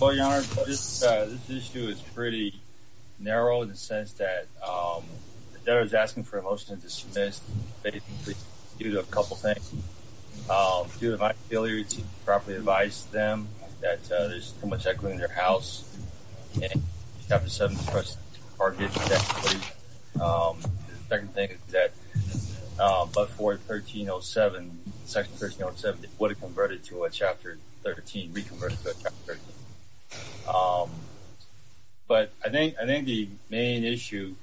Well, Your Honor, this issue is pretty narrow in the sense that the debtor is asking for a motion to dismiss basically due to a couple of things. Due to my inability to properly advise them that there's too much equity in their house and Chapter 7's first part of the issue. The second thing is that before 1307, Section 1307 would have converted to a Chapter 13, reconverted to a Chapter 13. But I think the main issue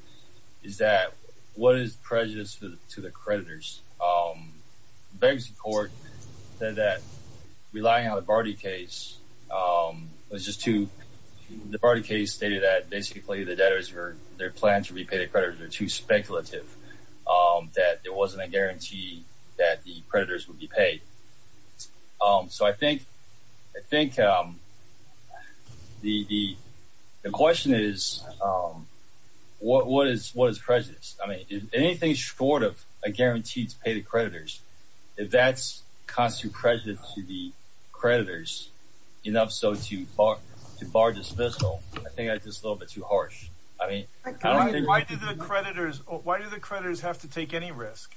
is that what is prejudice to the creditors? The bankruptcy court said that relying on the Barty case was just too... The Barty case stated that basically the debtors, their plan to repay the creditors were too speculative. That there wasn't a guarantee that the creditors would be paid. So I think the question is, what is prejudice? I mean, anything short of a guarantee to pay the creditors, if that's constant prejudice to the creditors, enough so to bar dismissal, I think that's just a little bit too harsh. I mean, I don't think... Why do the creditors have to take any risk?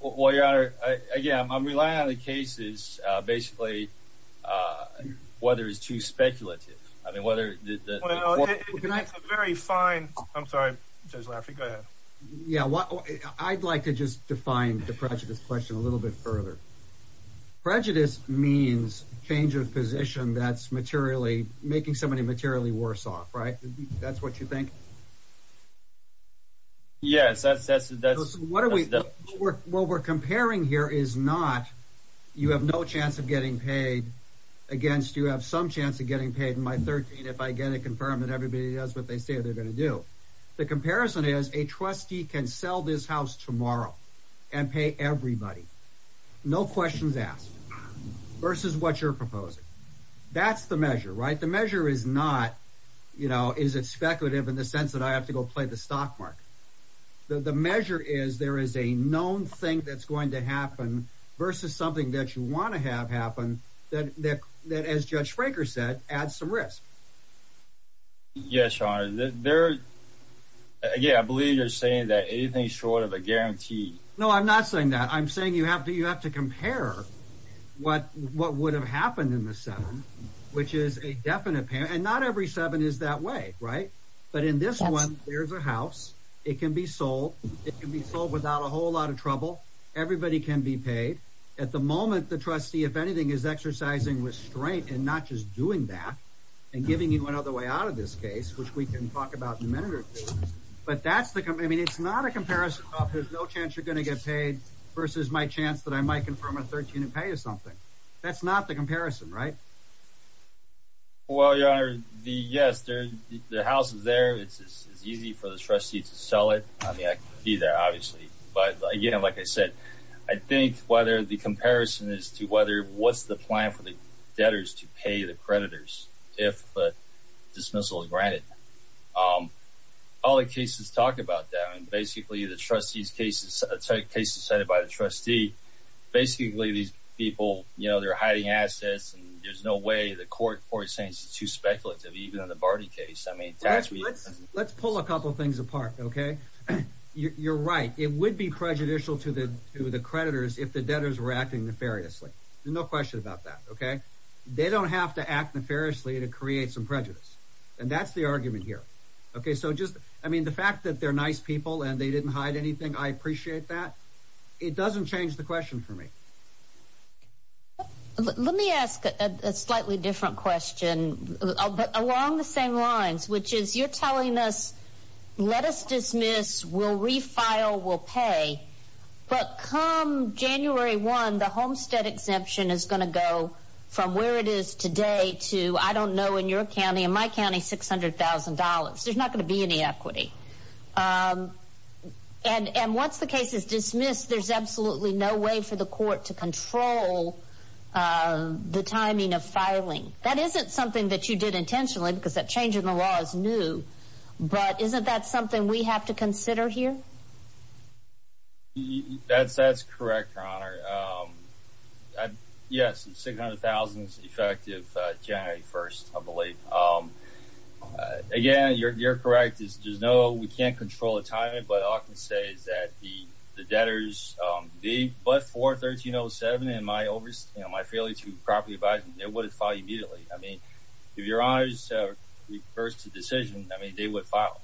Well, Your Honor, again, I'm relying on the cases basically whether it's too speculative. Well, it's a very fine... I'm sorry, Judge Lafferty, go ahead. Yeah, I'd like to just define the prejudice question a little bit further. Prejudice means change of position that's making somebody materially worse off, right? That's what you think? Yes, that's... What we're comparing here is not you have no chance of getting paid, against you have some chance of getting paid. In my 13, if I get it confirmed that everybody does what they say they're going to do. The comparison is a trustee can sell this house tomorrow and pay everybody. No questions asked versus what you're proposing. That's the measure, right? The measure is not, you know, is it speculative in the sense that I have to go play the stock market? The measure is there is a known thing that's going to happen versus something that you want to have happen, that, as Judge Fraker said, adds some risk. Yes, Your Honor, there... Again, I believe you're saying that anything short of a guarantee... No, I'm not saying that. I'm saying you have to compare what would have happened in the seven, which is a definite... and not every seven is that way, right? But in this one, there's a house. It can be sold. It can be sold without a whole lot of trouble. Everybody can be paid. At the moment, the trustee, if anything, is exercising restraint and not just doing that and giving you another way out of this case, which we can talk about in a minute or two. But that's the... I mean, it's not a comparison of there's no chance you're going to get paid versus my chance that I might confirm a 13 and pay or something. That's not the comparison, right? Well, Your Honor, yes, the house is there. It's easy for the trustee to sell it. I mean, I could be there, obviously. But, again, like I said, I think whether the comparison is to what's the plan for the debtors to pay the creditors if a dismissal is granted. All the cases talk about that. And basically, the trustees' cases, cases cited by the trustee, basically, these people, you know, they're hiding assets, and there's no way the court is saying it's too speculative, even on the Barney case. Let's pull a couple things apart, okay? You're right. It would be prejudicial to the creditors if the debtors were acting nefariously. There's no question about that, okay? They don't have to act nefariously to create some prejudice. And that's the argument here. I mean, the fact that they're nice people and they didn't hide anything, I appreciate that. It doesn't change the question for me. Let me ask a slightly different question, but along the same lines, which is you're telling us let us dismiss, we'll refile, we'll pay. But come January 1, the homestead exemption is going to go from where it is today to, I don't know, in your county, in my county, $600,000. There's not going to be any equity. And once the case is dismissed, there's absolutely no way for the court to control the timing of filing. That isn't something that you did intentionally because that change in the law is new, but isn't that something we have to consider here? That's correct, Your Honor. Yes, $600,000 is effective January 1, I believe. Again, you're correct. We can't control the timing, but all I can say is that the debtors, but for 1307 and my failure to properly advise them, they would have filed immediately. I mean, if Your Honor's first decision, I mean, they would file.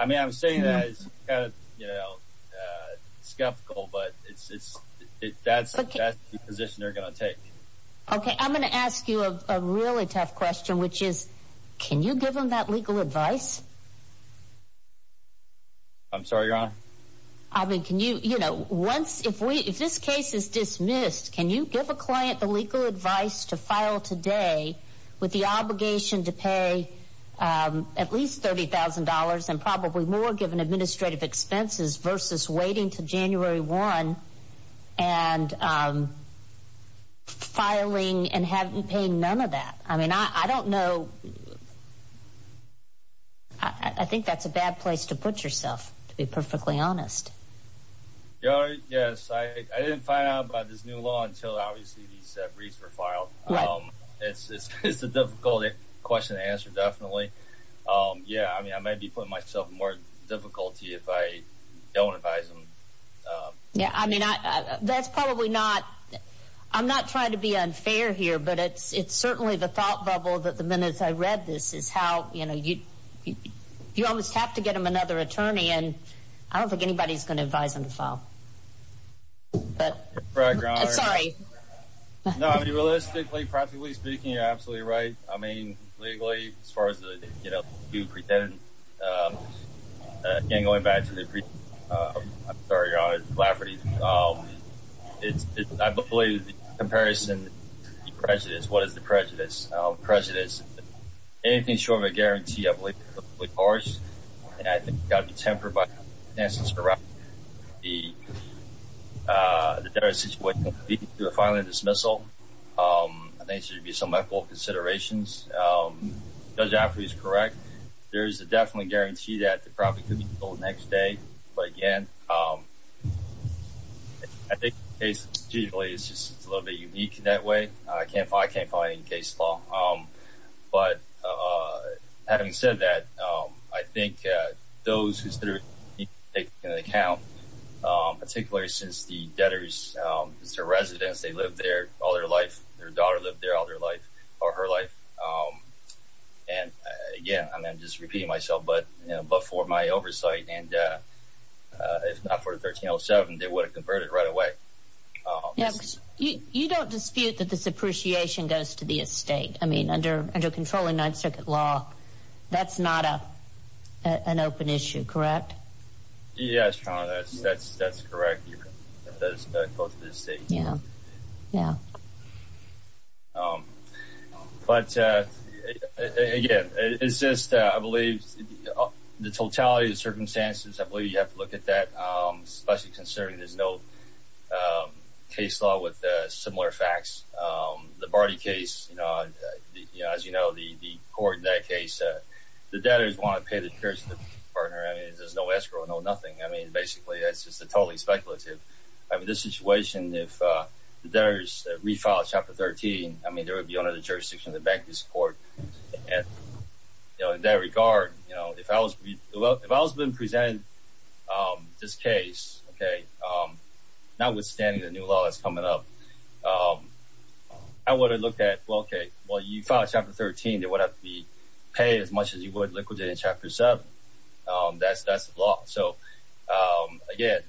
I mean, I'm saying that it's kind of skeptical, but that's the position they're going to take. Okay, I'm going to ask you a really tough question, which is, can you give them that legal advice? I'm sorry, Your Honor? I mean, can you, you know, once, if this case is dismissed, can you give a client the legal advice to file today with the obligation to pay at least $30,000 and probably more given administrative expenses versus waiting until January 1 and filing and having to pay none of that? I mean, I don't know. I think that's a bad place to put yourself, to be perfectly honest. Your Honor, yes, I didn't find out about this new law until, obviously, these briefs were filed. Right. It's a difficult question to answer, definitely. Yeah, I mean, I might be putting myself in more difficulty if I don't advise them. Yeah, I mean, that's probably not, I'm not trying to be unfair here, but it's certainly the thought bubble that the minute I read this is how, you know, you almost have to get them another attorney, and I don't think anybody's going to advise them to file. But, sorry. No, I mean, realistically, practically speaking, you're absolutely right. I mean, legally, as far as, you know, you pretend, again, going back to the briefs, I'm sorry, Your Honor, the calamity, I believe the comparison, the prejudice, what is the prejudice? Prejudice, anything short of a guarantee, I believe, is completely harsh, and I think it's got to be tempered by the circumstances around it. The better a situation would be to file a dismissal. I think there should be some ethical considerations. Judge Affrey is correct. There is definitely a guarantee that the property could be sold the next day. But, again, I think the case, strategically, is just a little bit unique in that way. I can't find any case law. But, having said that, I think those who take into account, particularly since the debtors, it's their residence, they lived there all their life, their daughter lived there all her life, and, again, I'm just repeating myself, but for my oversight, and if not for the 1307, they would have converted right away. You don't dispute that this appreciation goes to the estate. I mean, under controlling Ninth Circuit law, that's not an open issue, correct? Yes, Your Honor, that's correct. But, again, it's just, I believe, the totality of the circumstances, I believe you have to look at that, especially considering there's no case law with similar facts. The Barty case, as you know, the court in that case, the debtors want to pay the insurance partner. I mean, there's no escrow, no nothing. I mean, basically, it's just totally speculative. I mean, this situation, if the debtors refiled Chapter 13, I mean, there would be under the jurisdiction of the bankruptcy court. In that regard, if I was being presented this case, notwithstanding the new law that's coming up, I would have looked at, well, okay, well, you filed Chapter 13, there would have to be paid as much as you would liquidate in Chapter 7. That's the law. So, again,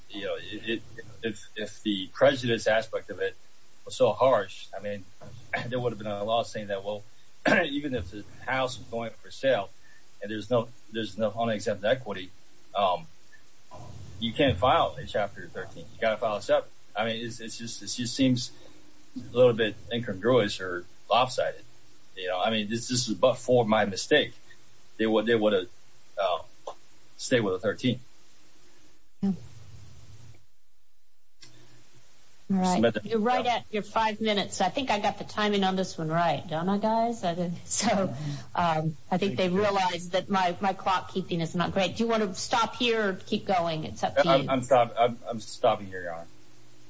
if the prejudice aspect of it was so harsh, I mean, there would have been a law saying that, well, even if the house is going for sale and there's no unexempt equity, you can't file a Chapter 13. You've got to file a 7. I mean, it just seems a little bit incongruous or lopsided. You know, I mean, this is but for my mistake. They would have stayed with a 13. You're right at your five minutes. I think I got the timing on this one right, don't I, guys? So, I think they realize that my clock keeping is not great. Do you want to stop here or keep going? It's up to you. I'm stopping here, Your Honor.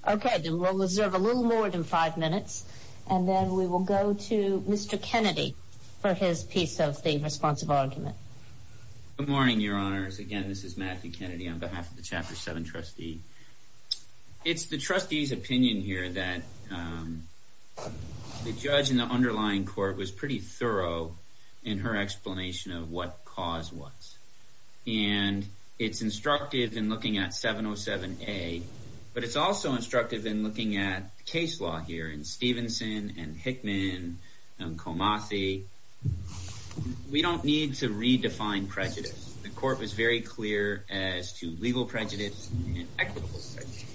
Okay, then we'll reserve a little more than five minutes, and then we will go to Mr. Kennedy for his piece of the responsive argument. Good morning, Your Honors. Again, this is Matthew Kennedy on behalf of the Chapter 7 trustee. It's the trustee's opinion here that the judge in the underlying court was pretty thorough in her explanation of what cause was. And it's instructive in looking at 707A, but it's also instructive in looking at the case law here in Stevenson and Hickman and Comathy. We don't need to redefine prejudice. The court was very clear as to legal prejudice and equitable prejudice.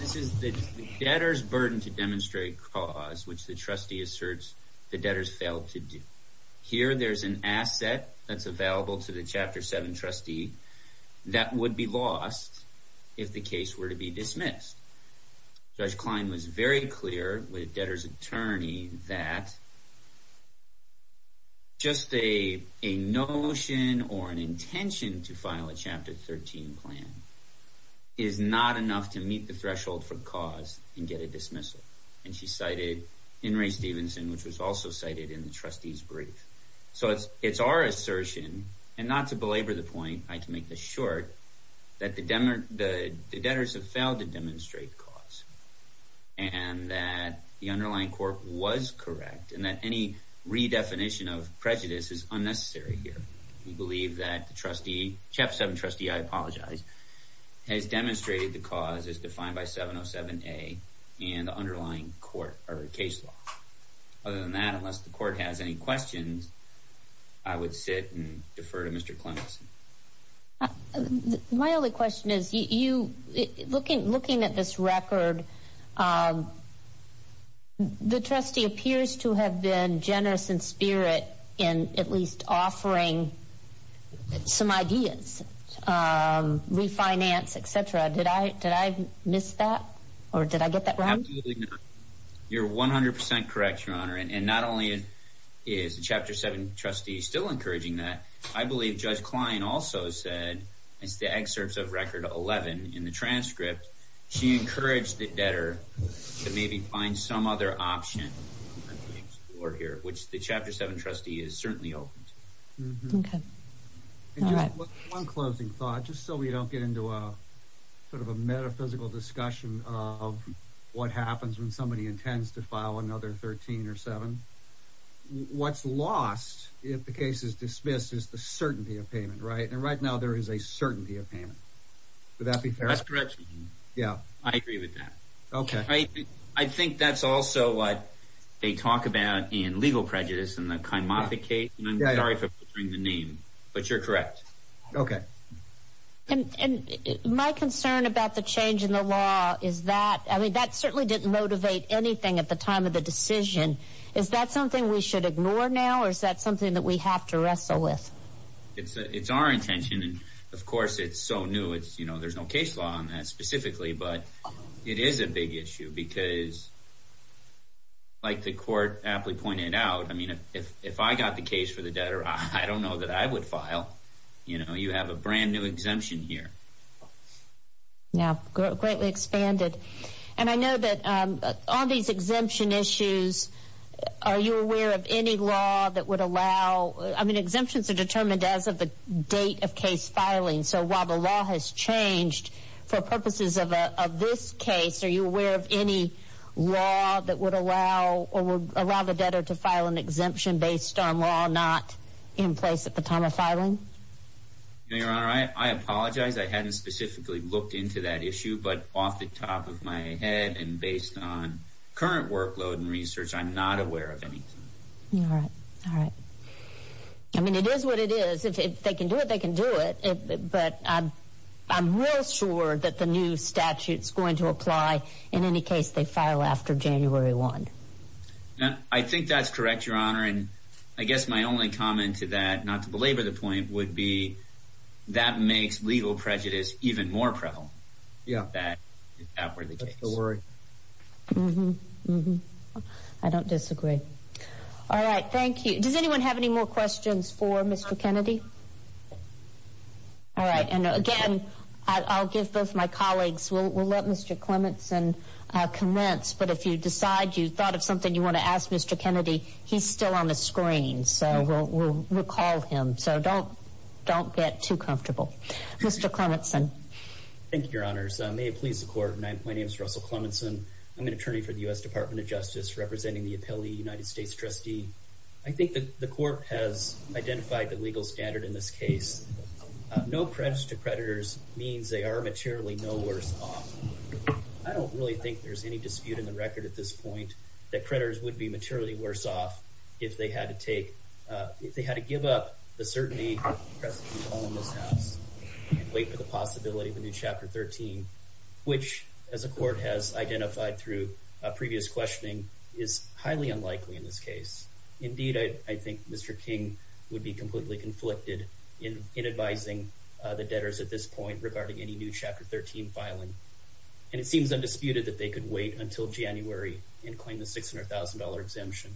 This is the debtor's burden to demonstrate cause, which the trustee asserts the debtor's failed to do. Here, there's an asset that's available to the Chapter 7 trustee that would be lost if the case were to be dismissed. Judge Klein was very clear with the debtor's attorney that just a notion or an intention to file a Chapter 13 plan is not enough to meet the threshold for cause and get a dismissal. And she cited in Ray Stevenson, which was also cited in the trustee's brief. So it's our assertion, and not to belabor the point, I can make this short, that the debtors have failed to demonstrate cause and that the underlying court was correct and that any redefinition of prejudice is unnecessary here. We believe that the Chapter 7 trustee, I apologize, has demonstrated the cause as defined by 707A in the underlying court or case law. Other than that, unless the court has any questions, I would sit and defer to Mr. Clemson. My only question is, looking at this record, the trustee appears to have been generous in spirit in at least offering some ideas, refinance, etc. Did I miss that, or did I get that right? Absolutely not. You're 100% correct, Your Honor. And not only is the Chapter 7 trustee still encouraging that, I believe Judge Klein also said, as the excerpts of Record 11 in the transcript, she encouraged the debtor to maybe find some other option to explore here, which the Chapter 7 trustee has certainly opened. Okay. All right. One closing thought, just so we don't get into a metaphysical discussion of what happens when somebody intends to file another 13 or 7. What's lost, if the case is dismissed, is the certainty of payment, right? And right now there is a certainty of payment. Would that be fair? That's correct, Your Honor. I agree with that. Okay. I think that's also what they talk about in Legal Prejudice and the Kymothe case. I'm sorry for butchering the name, but you're correct. Okay. And my concern about the change in the law is that, I mean, that certainly didn't motivate anything at the time of the decision, is that something we should ignore now, or is that something that we have to wrestle with? It's our intention, and of course it's so new. There's no case law on that specifically, but it is a big issue because, like the Court aptly pointed out, I mean, if I got the case for the debtor, I don't know that I would file. You have a brand new exemption here. Yeah, greatly expanded. And I know that on these exemption issues, are you aware of any law that would allow, I mean, exemptions are determined as of the date of case filing, so while the law has changed for purposes of this case, are you aware of any law that would allow the debtor to file an exemption based on law not in place at the time of filing? Your Honor, I apologize. I hadn't specifically looked into that issue, but off the top of my head and based on current workload and research, I'm not aware of anything. All right. I mean, it is what it is. If they can do it, they can do it, but I'm real sure that the new statute is going to apply in any case they file after January 1. I think that's correct, Your Honor, and I guess my only comment to that, not to belabor the point, would be that makes legal prejudice even more prevalent. Yeah. That's the worry. Mm-hmm. I don't disagree. All right. Thank you. Does anyone have any more questions for Mr. Kennedy? All right, and again, I'll give both my colleagues, we'll let Mr. Clementson commence, but if you decide you thought of something you want to ask Mr. Kennedy, he's still on the screen, so we'll call him, so don't get too comfortable. Mr. Clementson. Thank you, Your Honors. May it please the Court, my name is Russell Clementson. I'm an attorney for the U.S. Department of Justice representing the appellee United States trustee. I think that the Court has identified the legal standard in this case. No prejudice to predators means they are materially no worse off. I don't really think there's any dispute in the record at this point that predators would be materially worse off if they had to give up the certainty of the president's call in this House and wait for the possibility of a new Chapter 13, which, as the Court has identified through previous questioning, is highly unlikely in this case. Indeed, I think Mr. King would be completely conflicted in advising the debtors at this point regarding any new Chapter 13 filing, and it seems undisputed that they could wait until January and claim the $600,000 exemption.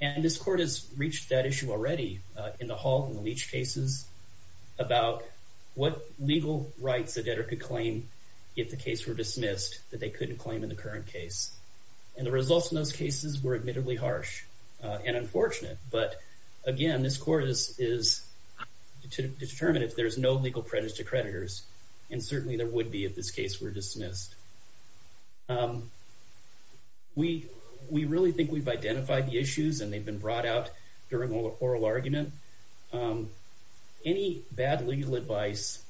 And this Court has reached that issue already in the Hall and the Leach cases about what legal rights a debtor could claim if the case were dismissed that they couldn't claim in the current case. And the results in those cases were admittedly harsh and unfortunate, but again, this Court is to determine if there's no legal prejudice to predators, and certainly there would be if this case were dismissed. We really think we've identified the issues, and they've been brought out during oral argument. Any bad legal advice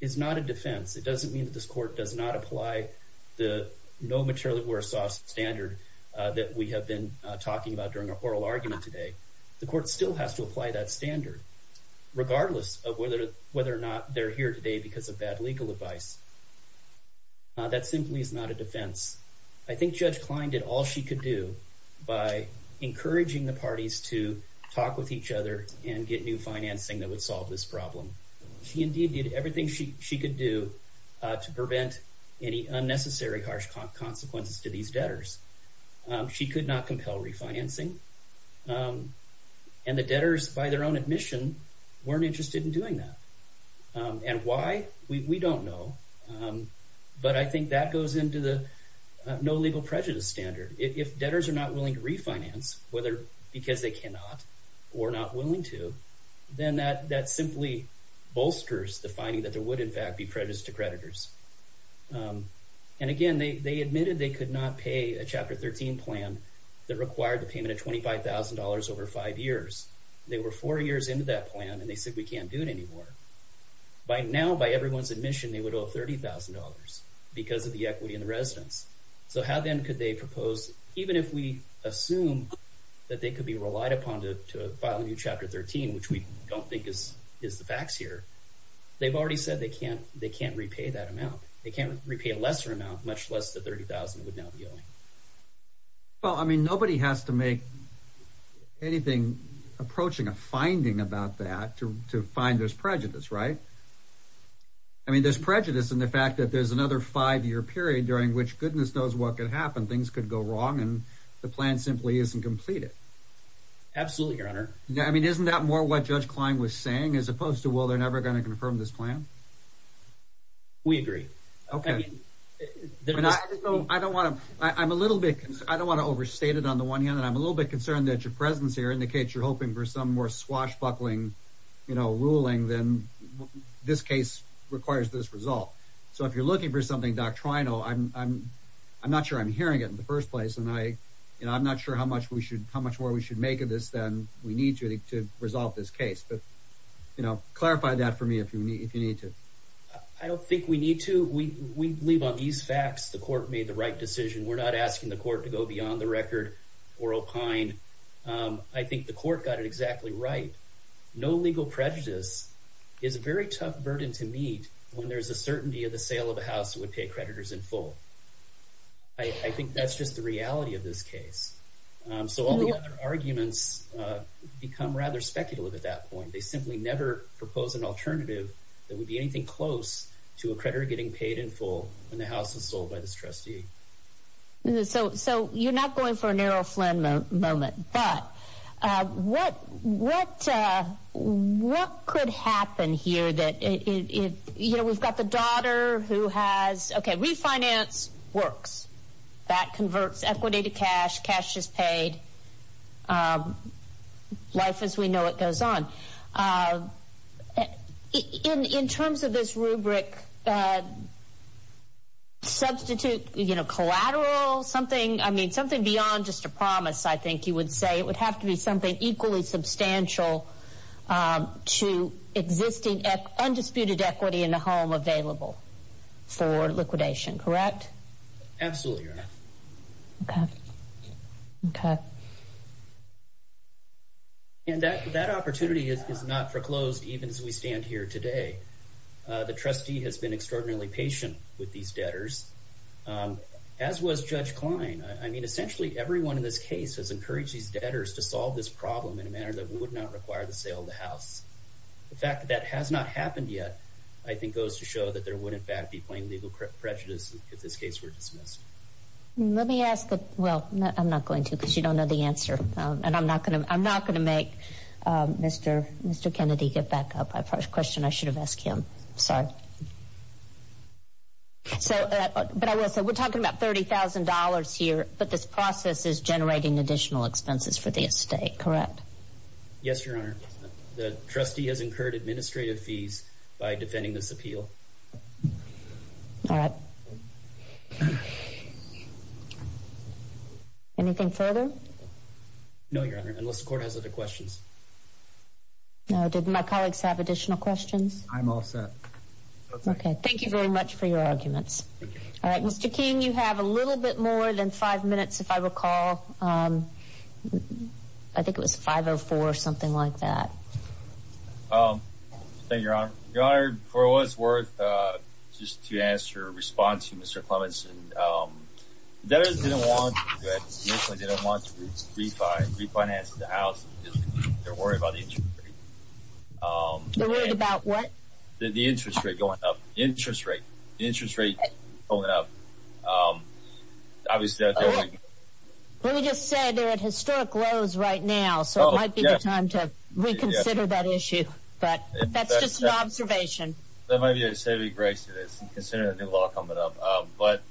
is not a defense. It doesn't mean that this Court does not apply the no materially worse off standard that we have been talking about during our oral argument today. The Court still has to apply that standard, regardless of whether or not they're here today because of bad legal advice. That simply is not a defense. I think Judge Klein did all she could do by encouraging the parties to talk with each other and get new financing that would solve this problem. She indeed did everything she could do to prevent any unnecessary harsh consequences to these debtors. She could not compel refinancing. And the debtors, by their own admission, weren't interested in doing that. And why? We don't know. But I think that goes into the no legal prejudice standard. If debtors are not willing to refinance, whether because they cannot or not willing to, then that simply bolsters the finding that there would, in fact, be prejudice to predators. And again, they admitted they could not pay a Chapter 13 plan that required the payment of $25,000 over five years. They were four years into that plan, and they said we can't do it anymore. By now, by everyone's admission, they would owe $30,000 because of the equity in the residence. So how then could they propose, even if we assume that they could be relied upon to file a new Chapter 13, which we don't think is the facts here, they've already said they can't repay that amount. They can't repay a lesser amount, much less the $30,000 would now be owing. Well, I mean, nobody has to make anything approaching a finding about that to find there's prejudice, right? I mean, there's prejudice in the fact that there's another five-year period during which goodness knows what could happen. Things could go wrong, and the plan simply isn't completed. Absolutely, Your Honor. I mean, isn't that more what Judge Klein was saying as opposed to, well, they're never going to confirm this plan? We agree. Okay. I don't want to overstate it on the one hand, and I'm a little bit concerned that your presence here indicates you're hoping for some more swashbuckling ruling than this case requires this result. So if you're looking for something doctrinal, I'm not sure I'm hearing it in the first place, and I'm not sure how much more we should make of this than we need to to resolve this case. But clarify that for me if you need to. I don't think we need to. We believe on these facts the court made the right decision. We're not asking the court to go beyond the record or opine. I think the court got it exactly right. No legal prejudice is a very tough burden to meet when there's a certainty of the sale of a house that would pay creditors in full. I think that's just the reality of this case. So all the other arguments become rather speculative at that point. They simply never propose an alternative that would be anything close to a creditor getting paid in full when the house is sold by this trustee. So you're not going for an Errol Flynn moment. But what could happen here? We've got the daughter who has, okay, refinance works. That converts equity to cash. Cash is paid. Life as we know it goes on. In terms of this rubric, substitute collateral, something beyond just a promise, I think you would say. It would have to be something equally substantial to existing undisputed equity in the home available for liquidation. Correct? Absolutely, Your Honor. Okay. And that opportunity is not foreclosed even as we stand here today. The trustee has been extraordinarily patient with these debtors. As was Judge Klein. I mean, essentially everyone in this case has encouraged these debtors to solve this problem in a manner that would not require the sale of the house. The fact that that has not happened yet I think goes to show that there would in fact be plain legal prejudice if this case were dismissed. Let me ask the, well, I'm not going to because you don't know the answer. And I'm not going to make Mr. Kennedy get back up. I have a question I should have asked him. Sorry. So, but I will say we're talking about $30,000 here, but this process is generating additional expenses for the estate, correct? Yes, Your Honor. The trustee has incurred administrative fees by defending this appeal. All right. Anything further? No, Your Honor, unless the court has other questions. No. Did my colleagues have additional questions? I'm all set. Okay. Thank you very much for your arguments. All right. Mr. King, you have a little bit more than five minutes, if I recall. I think it was 5.04, something like that. Thank you, Your Honor. Your Honor, for what it's worth, just to answer, respond to Mr. Clementson, debtors didn't want to refinance the house. They're worried about the interest rate. They're worried about what? The interest rate going up. Interest rate. Interest rate going up. Obviously, that's everything. Well, we just said they're at historic lows right now, so it might be the time to reconsider that issue. But that's just an observation. That might be a saving grace to consider a new law coming up. But,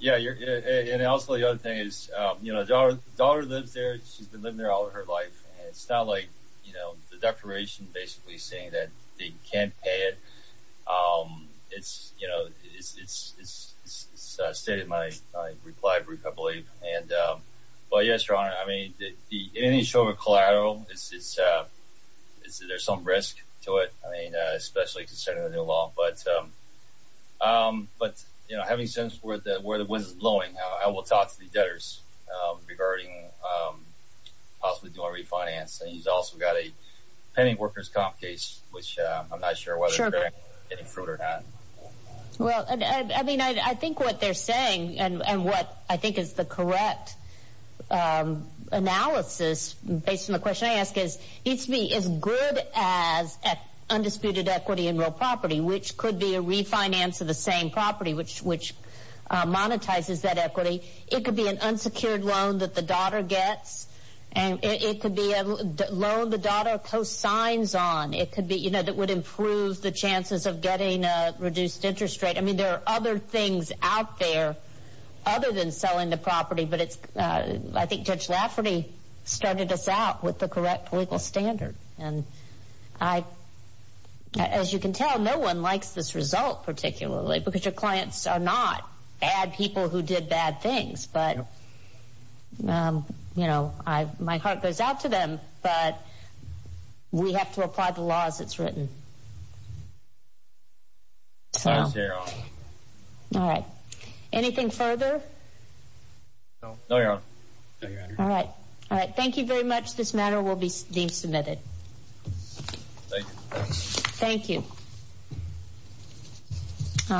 yeah, and also the other thing is, you know, the daughter lives there. She's been living there all of her life. And it's not like, you know, the declaration basically saying that they can't pay it. It's, you know, it's stated in my reply brief, I believe. But, yes, Your Honor, I mean, the initial collateral, there's some risk to it, I mean, especially considering the new law. But, you know, having said where the wind is blowing, I will talk to the debtors regarding possibly doing a refinance. And he's also got a penny workers' comp case, which I'm not sure whether they're getting fruit or not. Well, I mean, I think what they're saying and what I think is the correct analysis, based on the question I asked, is it needs to be as good as undisputed equity in real property, which could be a refinance of the same property, which monetizes that equity. It could be an unsecured loan that the daughter gets. And it could be a loan the daughter posts signs on. It could be, you know, that would improve the chances of getting a reduced interest rate. I mean, there are other things out there other than selling the property. But I think Judge Lafferty started us out with the correct legal standard. And, as you can tell, no one likes this result particularly because your clients are not bad people who did bad things. But, you know, my heart goes out to them. But we have to apply the law as it's written. All right. Anything further? No, Your Honor. All right. All right. Thank you very much. This matter will be deemed submitted. Thank you. Thank you.